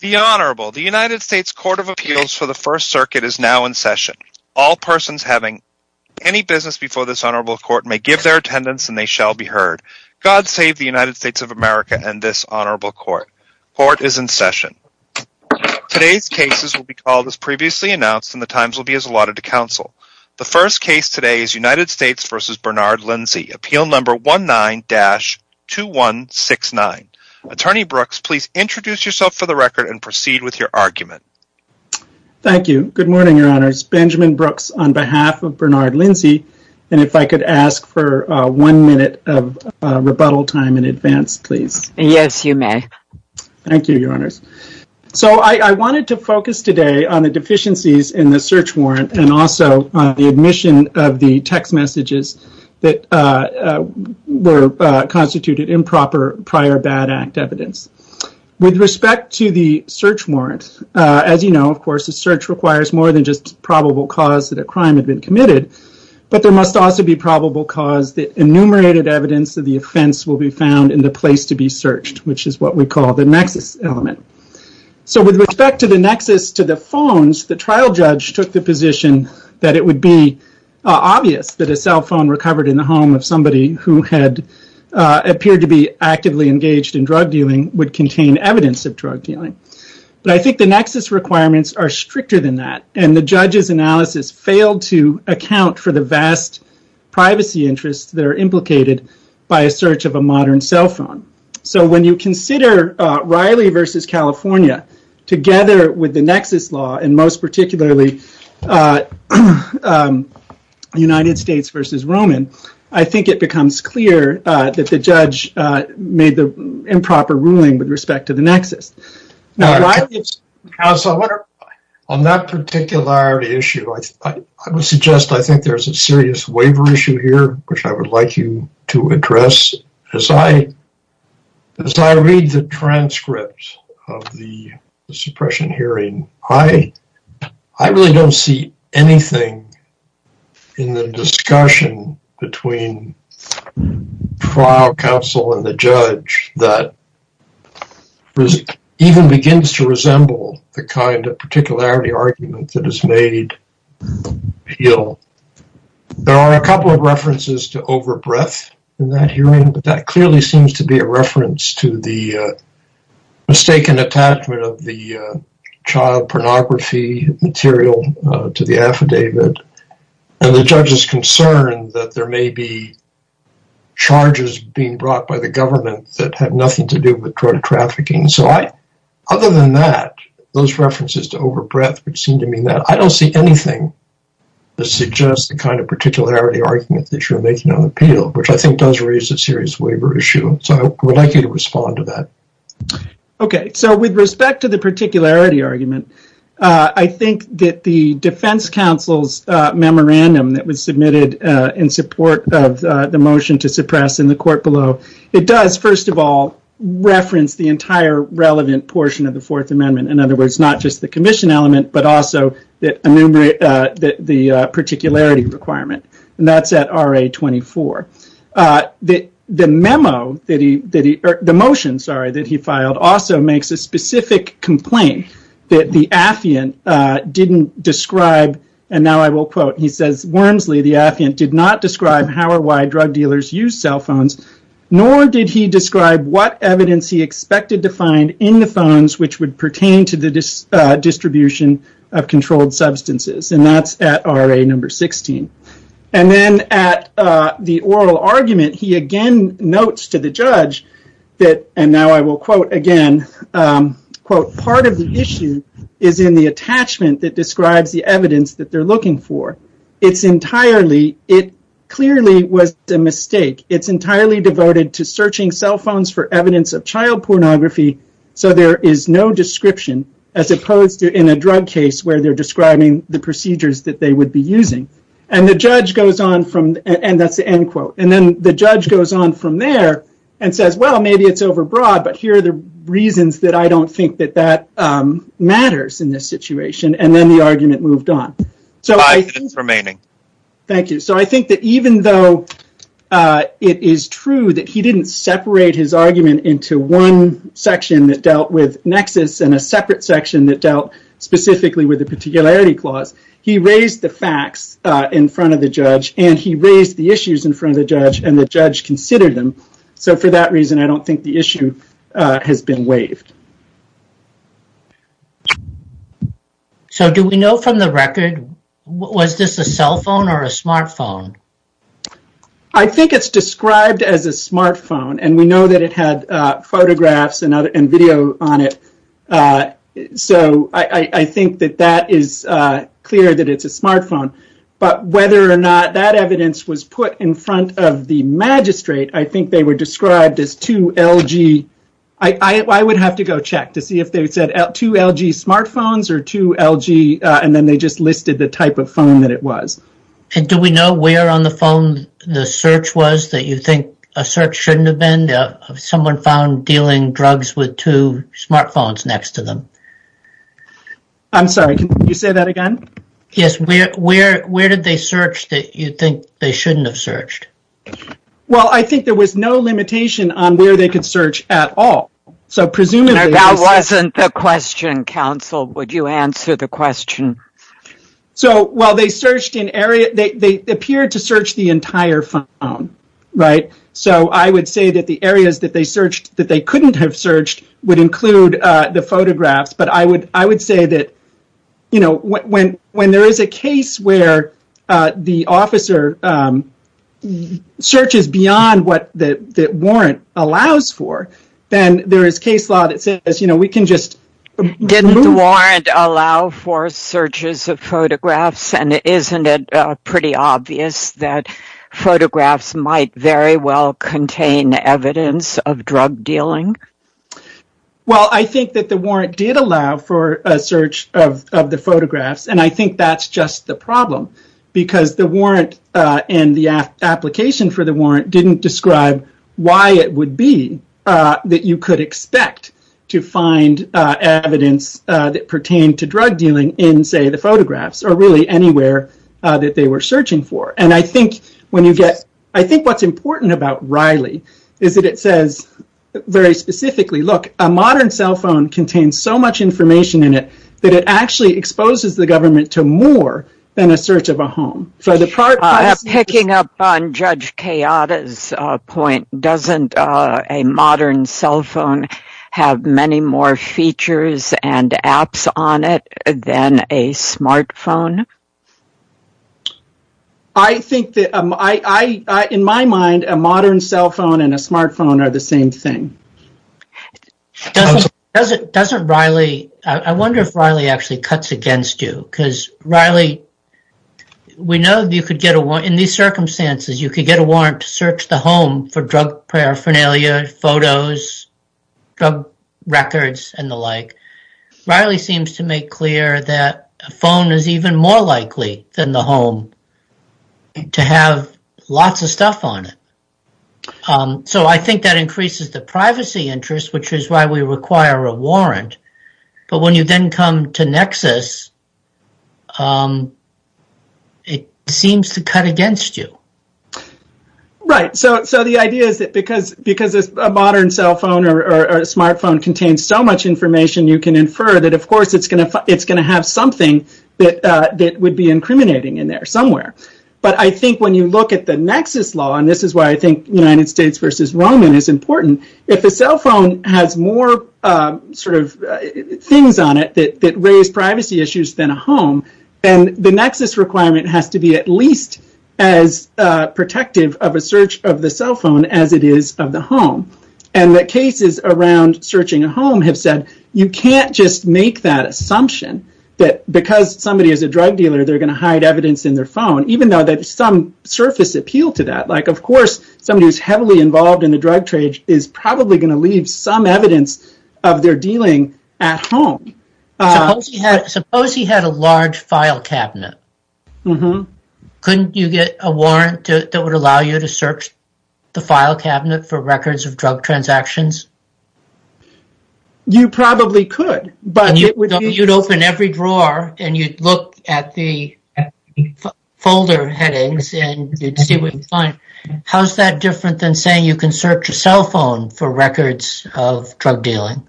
The Honorable, the United States Court of Appeals for the First Circuit is now in session. All persons having any business before this Honorable Court may give their attendance and they shall be heard. God save the United States of America and this Honorable Court. Court is in session. Today's cases will be called as previously announced and the times will be as allotted to counsel. The first case today is United States v. Bernard Lindsey, appeal number 19-2169. Attorney Brooks, please introduce yourself for the record and proceed with your argument. Thank you. Good morning, Your Honors. Benjamin Brooks on behalf of Bernard Lindsey. And if I could ask for one minute of rebuttal time in advance, please. Yes, you may. Thank you, Your Honors. So, I wanted to focus today on the deficiencies in the search warrant and also on the admission of the text messages that were constituted improper prior bad act evidence. With respect to the search warrant, as you know, of course, a search requires more than just probable cause that a crime had been committed, but there must also be probable cause that enumerated evidence of the offense will be found in the place to be searched, which is what we call the nexus element. So, with respect to the nexus to the phones, the trial judge took the position that it would be obvious that a cell phone recovered in the home of somebody who had appeared to be actively engaged in drug dealing would contain evidence of drug dealing. But I think the nexus requirements are stricter than that, and the judge's analysis failed to account for the vast privacy interests that are implicated by a search of a modern cell phone. So, when you consider Riley v. California, together with the nexus law, and most particularly United States v. Roman, I think it becomes clear that the judge made the improper ruling with respect to the nexus. Now, on that particular issue, I would suggest I think there's a serious waiver issue here, which I would like you to address. As I read the transcript of the suppression hearing, I really don't see anything in the discussion between trial counsel and the judge that even begins to resemble the kind of particularity argument that is made appeal. There are a couple of references to over-breath in that hearing, but that clearly seems to be a reference to the mistaken attachment of the child pornography material to the affidavit, and the judge's concern that there may be charges being brought by the government that have nothing to do with drug trafficking. So, other than that, those references to this suggest the kind of particularity argument that you're making on appeal, which I think does raise a serious waiver issue. So, I would like you to respond to that. Okay. So, with respect to the particularity argument, I think that the defense counsel's memorandum that was submitted in support of the motion to suppress in the court below, it does, first of all, reference the entire relevant portion of the Fourth Amendment. In other words, not just the commission element, but also the particularity requirement, and that's at RA 24. The motion that he filed also makes a specific complaint that the affiant didn't describe, and now I will quote, he says, Wormsley, the affiant did not describe how or why drug dealers use cell phones, nor did he describe what evidence he expected to find in the phones which would pertain to the distribution of controlled substances, and that's at RA number 16. And then, at the oral argument, he again notes to the judge that, and now I will quote again, part of the issue is in the attachment that describes the evidence that they're looking for. It clearly was a mistake. It's entirely devoted to searching cell phones for evidence of child description as opposed to in a drug case where they're describing the procedures that they would be using, and that's the end quote, and then the judge goes on from there and says, well, maybe it's overbroad, but here are the reasons that I don't think that that matters in this situation, and then the argument moved on. So I think that even though it is true that he didn't separate his argument into one section that dealt with nexus and a separate section that dealt specifically with the particularity clause, he raised the facts in front of the judge, and he raised the issues in front of the judge, and the judge considered them. So for that reason, I don't think the issue has been waived. So do we know from the record, was this a cell phone or a smartphone? I think it's described as a smartphone, and we know that it had photographs and video on it, so I think that that is clear that it's a smartphone, but whether or not that evidence was put in front of the magistrate, I think they were described as two LG. I would have to go check to see if they said two LG smartphones or two LG, and then they just listed the type of phone that was. And do we know where on the phone the search was that you think a search shouldn't have been? Someone found dealing drugs with two smartphones next to them. I'm sorry, can you say that again? Yes, where did they search that you think they shouldn't have searched? Well, I think there was no limitation on where they could search at all, so presumably... That wasn't the question, counsel. Would you answer the question? So while they searched an area, they appeared to search the entire phone, right? So I would say that the areas that they searched that they couldn't have searched would include the photographs, but I would say that when there is a case where the officer searches beyond what the warrant allows for, then there is case law that says, you know, we can just... Didn't the warrant allow for searches of photographs, and isn't it pretty obvious that photographs might very well contain evidence of drug dealing? Well, I think that the warrant did allow for a search of the photographs, and I think that's just the problem, because the warrant and the application for the warrant didn't describe why it would be that you could expect to find evidence that pertained to drug dealing in, say, the photographs or really anywhere that they were searching for, and I think what's important about Riley is that it says very specifically, look, a modern cell phone contains so much information in it that it actually exposes the government to more than a search of a home. So the part... Picking up on Judge Kayada's point, doesn't a modern cell phone have many more features and apps on it than a smartphone? I think that, in my mind, a modern cell phone and a smartphone are the same thing. Doesn't Riley... I wonder if Riley actually cuts against you, because Riley, we know that you could get a warrant... In these circumstances, you could get a warrant to search the home for drug paraphernalia, photos, drug records, and the like. Riley seems to make clear that a phone is even more likely than the home to have lots of stuff on it. So I think that increases the privacy interest, which is why we require a warrant. But when you then come to Nexus, it seems to cut against you. Right. So the idea is that because a modern cell phone or smartphone contains so much information, you can infer that, of course, it's going to have something that would be incriminating in there somewhere. But I think when you look at the Nexus law, and this is why I think United States versus Roman is important, if a cell phone has more things on it that raise privacy issues than a home, then the Nexus requirement has to be at least as protective of a search of the cell phone as it is of the home. And the cases around searching a home have said, you can't just make that assumption that because somebody is a drug dealer, they're going to hide evidence in their phone, even though there's some surface appeal to that. Of course, somebody who's heavily involved in the drug trade is probably going to leave some evidence of their dealing at home. Suppose he had a large file cabinet. Couldn't you get a warrant that would allow you to search the file cabinet for records of drug transactions? You probably could. But you'd open every drawer and you'd look at the folder headings and you'd see what you find. How's that different than saying you can search your cell phone for records of drug dealing?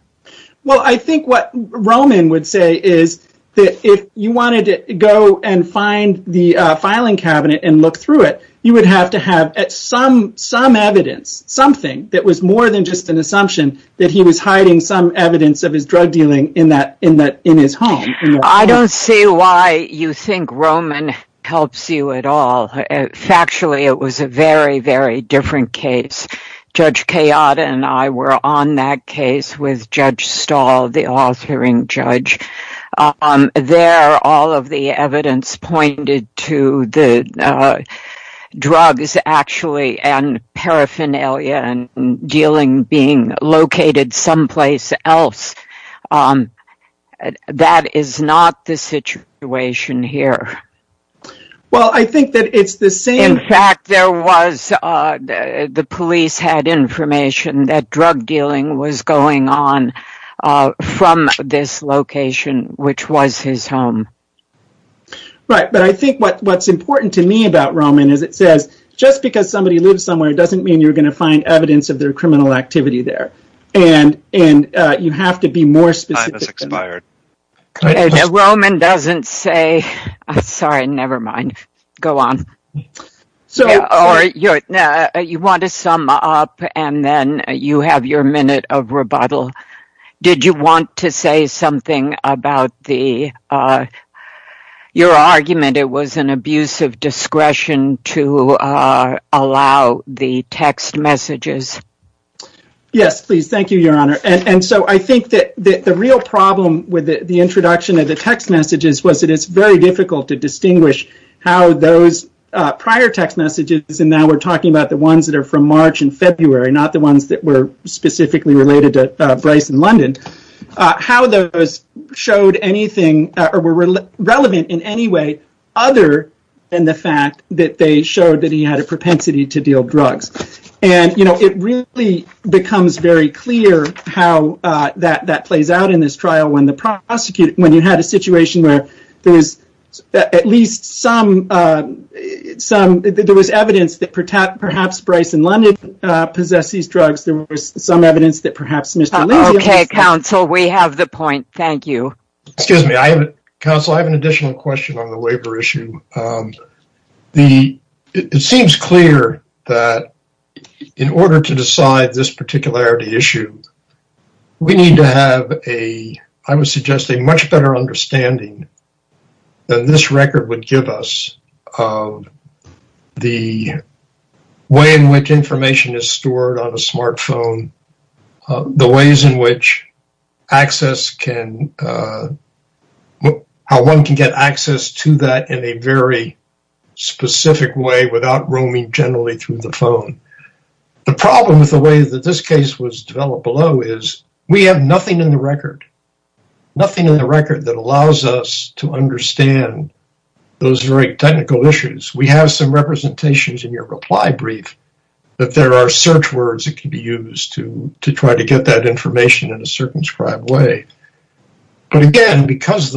Well, I think what Roman would say is that if you wanted to go and find the filing cabinet and look through it, you would have to have some evidence, something that was more than just an assumption that he was hiding some evidence of all. Factually, it was a very, very different case. Judge Kayada and I were on that case with Judge Stahl, the authoring judge. There, all of the evidence pointed to the drugs actually and paraphernalia and dealing being located someplace else. That is not the situation here. In fact, the police had information that drug dealing was going on from this location, which was his home. Right, but I think what's important to me about Roman is it says, just because somebody lives somewhere doesn't mean you're going to find evidence of their on. You want to sum up and then you have your minute of rebuttal. Did you want to say something about your argument it was an abuse of discretion to allow the text messages? Yes, please. Thank you, Your Honor. I think that the real problem with the introduction of the those prior text messages, and now we're talking about the ones that are from March and February, not the ones that were specifically related to Bryce in London, how those showed anything or were relevant in any way other than the fact that they showed that he had a propensity to deal drugs. It really becomes very clear how that plays out in this trial when you had a situation where there was at least some, there was evidence that perhaps Bryce in London possessed these drugs. There was some evidence that perhaps Mr. Lindsay... Okay, counsel, we have the point. Thank you. Excuse me. Counsel, I have an additional question on the waiver issue. It seems clear that in order to decide this particularity issue, we need to have a, I would suggest, a much better understanding than this record would give us of the way in which information is stored on a smartphone, the ways in which access can, how one can get access to that in a very specific way without roaming generally through the phone. The problem with the way that this case was developed below is we have nothing in the record, nothing in the record that allows us to understand those very technical issues. We have some representations in your reply brief that there are search words that can be used to try to get that information in a circumscribed way. But again, because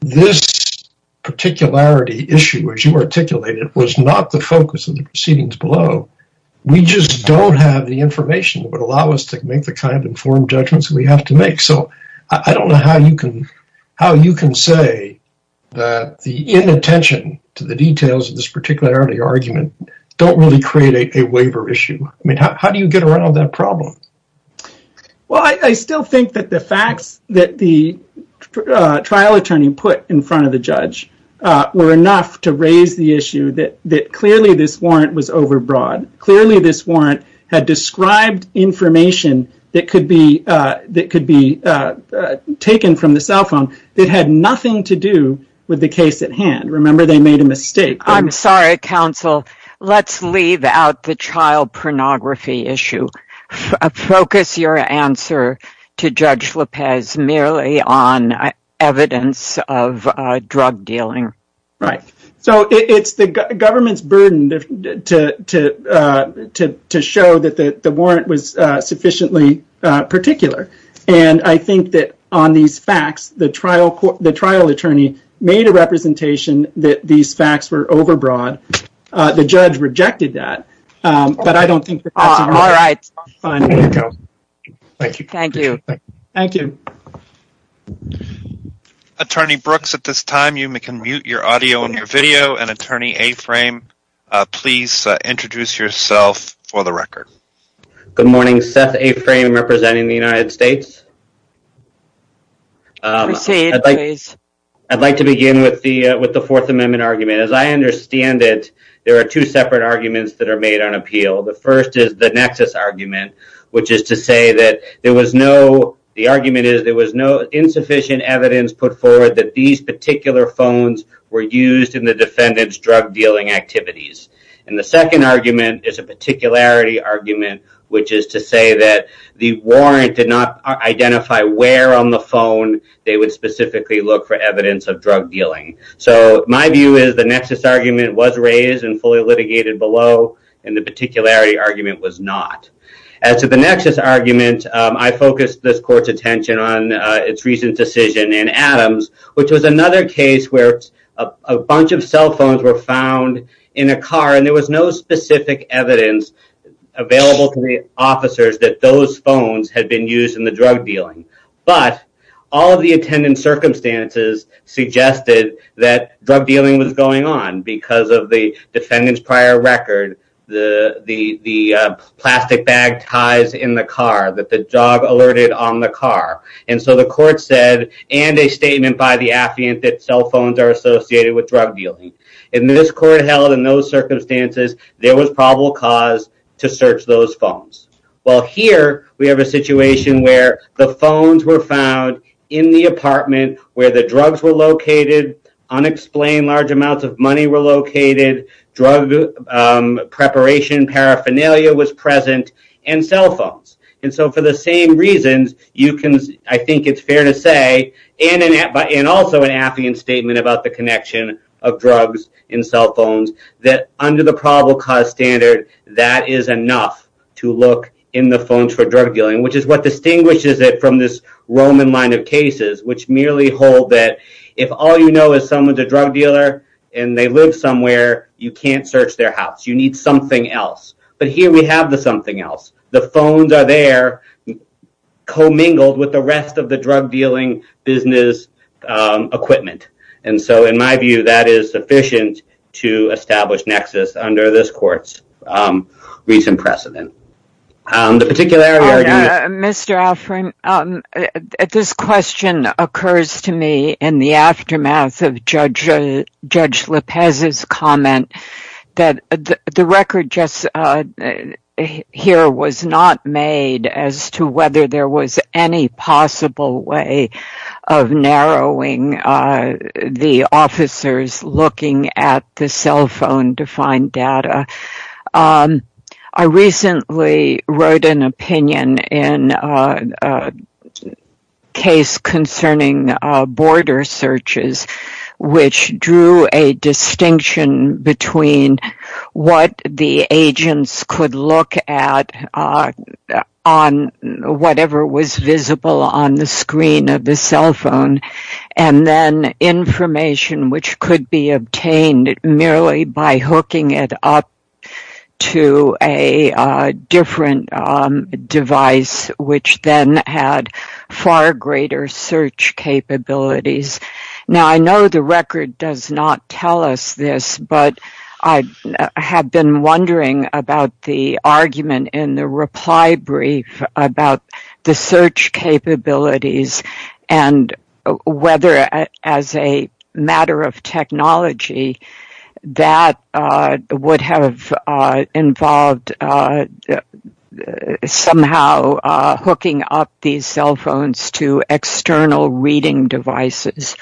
this particularity issue, as you articulated, was not the focus of the proceedings below, we just don't have the information that would allow us to make the kind of informed judgments we have to make. I don't know how you can say that the inattention to the details of this particularity argument don't really create a waiver issue. I mean, how do you get around that problem? Well, I still think that the facts that the trial attorney put in front of the judge were enough to raise the issue that clearly this warrant was overbroad. Clearly this warrant had described information that could be taken from the cell phone that had nothing to do with the case at hand. Remember they made a mistake. I'm sorry, counsel. Let's leave out the child pornography issue. Focus your answer to Judge Lopez merely on evidence of drug dealing. Right. So it's the government's burden to show that the warrant was sufficiently particular. And I think that on these facts, the trial attorney made a representation that these facts were overbroad. The judge rejected that, but I don't think that's enough to find a waiver. Thank you. Thank you. Attorney Brooks, at this time, you can mute your audio and your video. And Attorney Aframe, please introduce yourself for the record. Good morning. Seth Aframe representing the United States. I'd like to begin with the Fourth Amendment argument. As I understand it, there are two separate arguments that are made on appeal. The first is the nexus argument, which is to say that there was no insufficient evidence put forward that these particular phones were used in the defendant's drug dealing activities. And the second argument is a particularity argument, which is to say that the warrant did not identify where on the phone they would specifically look for evidence of drug dealing. So my view is the nexus argument was raised and fully litigated below, and the particularity argument was not. As to the nexus argument, I focused this court's attention on its recent decision in Adams, which was another case where a bunch of cell phones were found in a car, and there was no specific evidence available to the officers that those phones had been used in the drug dealing. But all of the defendant's prior record, the plastic bag ties in the car that the dog alerted on the car. And so the court said, and a statement by the affiant that cell phones are associated with drug dealing. And this court held in those circumstances, there was probable cause to search those phones. Well, here we have a situation where the phones were found in the apartment where the drugs were located, drug preparation, paraphernalia was present, and cell phones. And so for the same reasons, I think it's fair to say, and also an affiant statement about the connection of drugs in cell phones, that under the probable cause standard, that is enough to look in the phones for drug dealing, which is what distinguishes it from this Roman line of cases, which merely hold that if all you know is someone's a drug dealer, and they live somewhere, you can't search their house. You need something else. But here we have the something else. The phones are there, commingled with the rest of the drug dealing business equipment. And so in my view, that is sufficient to establish nexus under this court's recent precedent. The particular area... Mr. Alfred, this question occurs to me in the aftermath of Judge Lopez's comment that the record just here was not made as to whether there was any possible way of narrowing the officers looking at the cell phone to find data. I recently wrote an opinion in a case concerning border searches, which drew a distinction between what the agents could look at on whatever was visible on the by hooking it up to a different device, which then had far greater search capabilities. Now, I know the record does not tell us this, but I have been wondering about the argument in the that would have involved somehow hooking up these cell phones to external reading devices.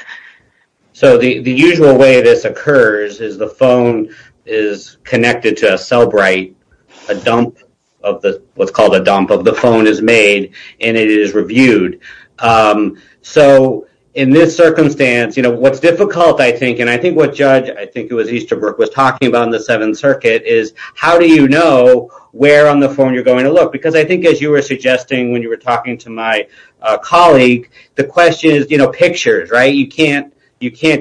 So the usual way this occurs is the phone is connected to a cell bright, a dump of the what's called a dump of the phone is made, and it is reviewed. So in this circumstance, what's difficult, I think, and I think what Judge Easterbrook was talking about in the Seventh Circuit is how do you know where on the phone you're going to look? Because I think as you were suggesting when you were talking to my colleague, the question is pictures, right? You can't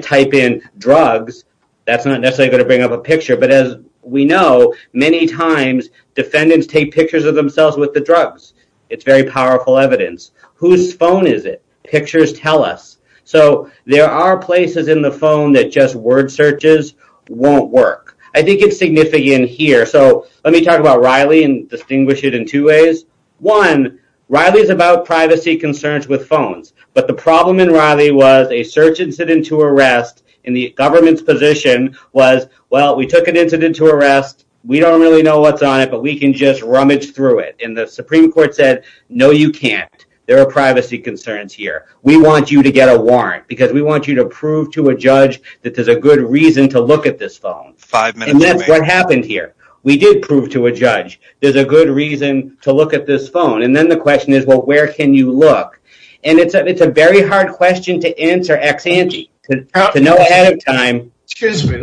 type in drugs. That's not necessarily going to bring up a picture. But as we know, many times defendants take pictures of themselves with the drugs. It's very powerful evidence. Whose phone is it? Pictures tell us. So there are places in the phone that just word searches won't work. I think it's significant here. So let me talk about Riley and distinguish it in two ways. One, Riley is about privacy concerns with phones. But the problem in Riley was a search incident to arrest in the government's position was, well, we took an incident to arrest. We don't really know what's on it, but we can just rummage through it. And the Supreme Court said, no, you can't. There are privacy concerns here. We want you to get a warrant because we want you to prove to a judge that there's a good reason to look at this phone. And that's what happened here. We did prove to a judge there's a good reason to look at this phone. And then the question is, well, where can you look? And it's a very hard question to answer ex-ante, to know ahead of time. Excuse me.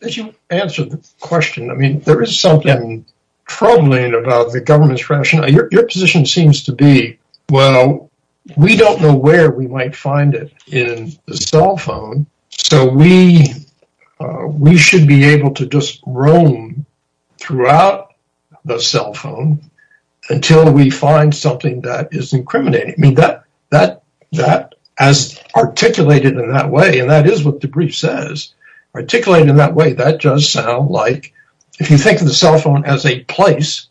As you answer the question, I mean, there is something troubling about the government's rationale. Your position seems to be, well, we don't know where we might find it in the cell phone. So we should be able to just roam throughout the cell phone until we find something that is incriminating. I mean, that as articulated in that way, and that is what the brief says, articulated in that way, that does sound like, if you think of the cell phone as a place,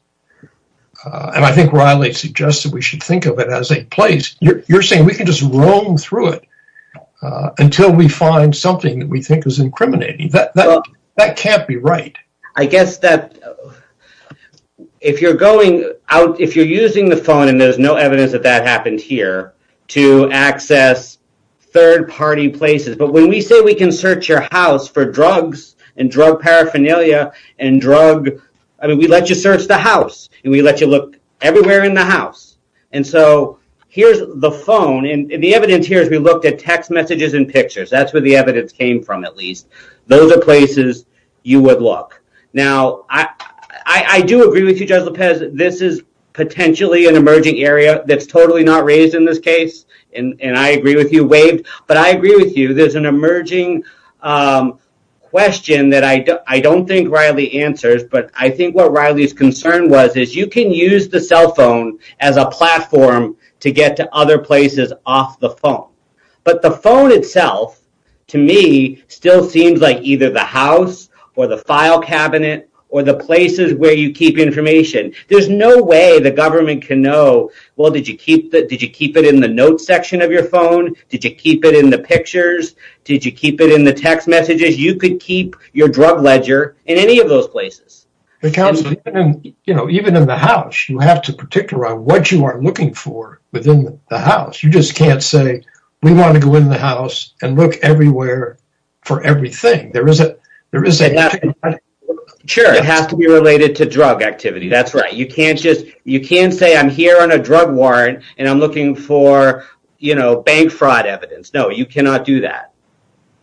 and I think Riley suggested we should think of it as a place, you're saying we can just roam through it until we find something that we think is incriminating. That can't be right. I guess that if you're going out, if you're using the phone, and there's no evidence that that happened here, to access third-party places. But when we say we can search your house for drugs and drug paraphernalia, and drug, I mean, we let you search the house, and we let you look everywhere in the house. And so here's the phone, and the evidence here is we looked at text messages and pictures. That's where the evidence came from, at least. Those are places you would look. Now, I do agree with you, Judge Lopez, this is potentially an emerging area that's totally not raised in this case, and I agree with you, but I agree with you, there's an emerging question that I don't think Riley answers, but I think what Riley's concern was is you can use the cell phone as a platform to get to other places off the phone. But the phone itself, to me, still seems like either the house, or the file cabinet, or the places where you keep information. There's no way the government can say, well, did you keep it in the notes section of your phone? Did you keep it in the pictures? Did you keep it in the text messages? You could keep your drug ledger in any of those places. Even in the house, you have to particular on what you are looking for within the house. You just can't say, we want to go in the house and look everywhere for everything. There is a... It has to be related to drug activity. That's right. You can't say, I'm here on a drug warrant, and I'm looking for bank fraud evidence. No, you cannot do that.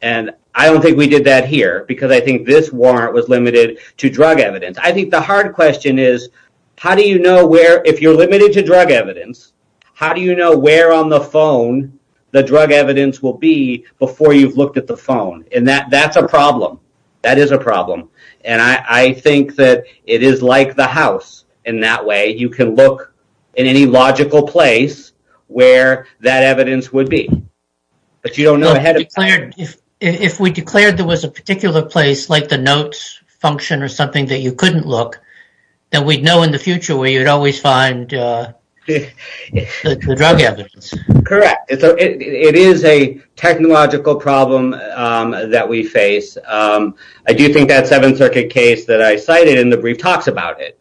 I don't think we did that here, because I think this warrant was limited to drug evidence. I think the hard question is, if you're limited to drug evidence, how do you know where on the phone the drug evidence will be before you've looked at the phone? That's a problem. That is a problem. I think that it is like the house in that way. You can look in any logical place where that evidence would be. If we declared there was a particular place, like the notes function or something that you couldn't look, then we'd know in the future where you'd always find the drug evidence. Correct. It is a technological problem that we face. I do think that Seventh Circuit case that I cited in the brief talks about it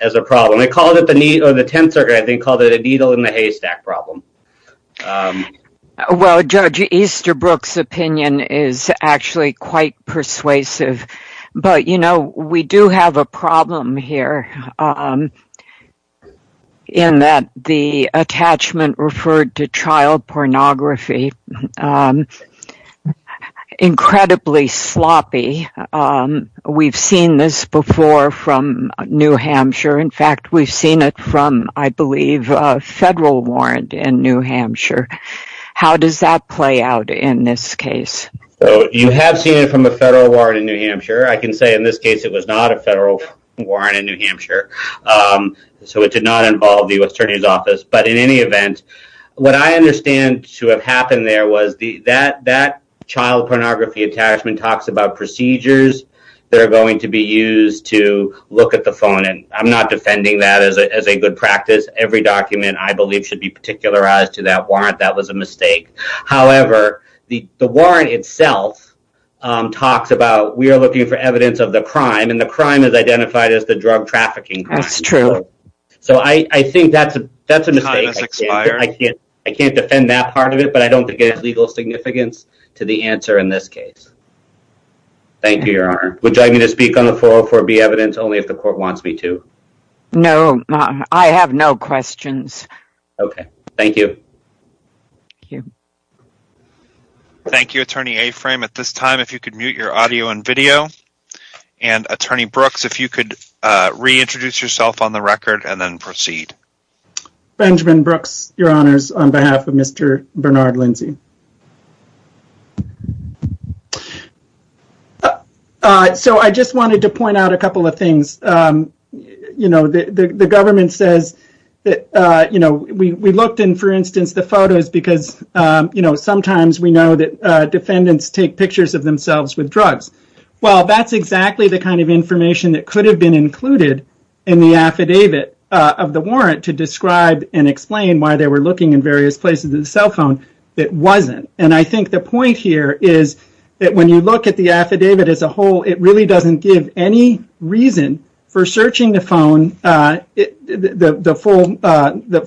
as a problem. They called it the Needle in the Haystack problem. Well, Judge Easterbrook's opinion is actually quite persuasive, but we do have a problem here in that the attachment referred to child pornography. Incredibly sloppy. We've seen this before from New Hampshire. In fact, we've seen it from, I believe, a federal warrant in New Hampshire. How does that play out in this case? You have seen it from a federal warrant in New Hampshire. I can say in this case, it was not a federal warrant in New Hampshire, so it did not involve the U.S. Attorney's Office. In any event, what I understand to have happened there was that child pornography attachment talks about procedures that are going to be used to look at the phone. I'm not defending that as a good practice. Every document, I believe, should be particularized to that warrant. That was a identified as the drug trafficking crime. That's true. So I think that's a mistake. I can't defend that part of it, but I don't think it has legal significance to the answer in this case. Thank you, Your Honor. Would you like me to speak on the 404B evidence, only if the court wants me to? No. I have no questions. Okay. Thank you. Thank you, Attorney Aframe. At this time, if you could mute your audio and video, and Attorney Brooks, if you could reintroduce yourself on the record and then proceed. Benjamin Brooks, Your Honors, on behalf of Mr. Bernard Lindsey. I just wanted to point out a couple of things. The government says that we looked in, for instance, the photos because sometimes we know that defendants take pictures of themselves with drugs. Well, that's exactly the kind of information that could have been included in the affidavit of the warrant to describe and explain why they were looking in various places in the cell phone. It wasn't. I think the point here is that when you look at the affidavit as a whole, it really doesn't give any reason for searching the phone, the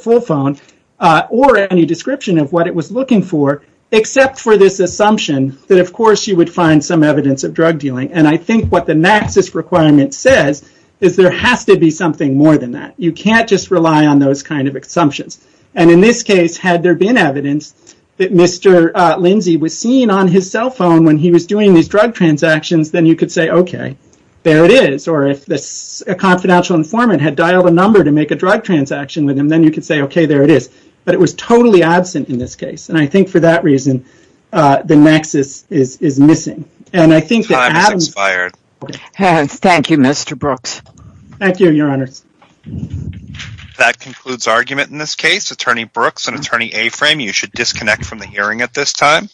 full phone, or any description of what it was looking for, except for this assumption that, of course, you would find some evidence of drug dealing. I think what the NAXIS requirement says is there has to be something more than that. You can't just rely on those kind of assumptions. In this case, had there been evidence that Mr. Lindsey was seen on his cell phone when he was doing these drug transactions, then you could say, okay, there it is. If a confidential informant had dialed a number to make a drug transaction with him, then you could say, okay, there it is. It was totally absent in this case. I think for that reason, the NAXIS is missing. Time has expired. Thank you, Mr. Brooks. Thank you, Your Honors. That concludes argument in this case. Attorney Brooks and Attorney Aframe, you should disconnect from the hearing at this time.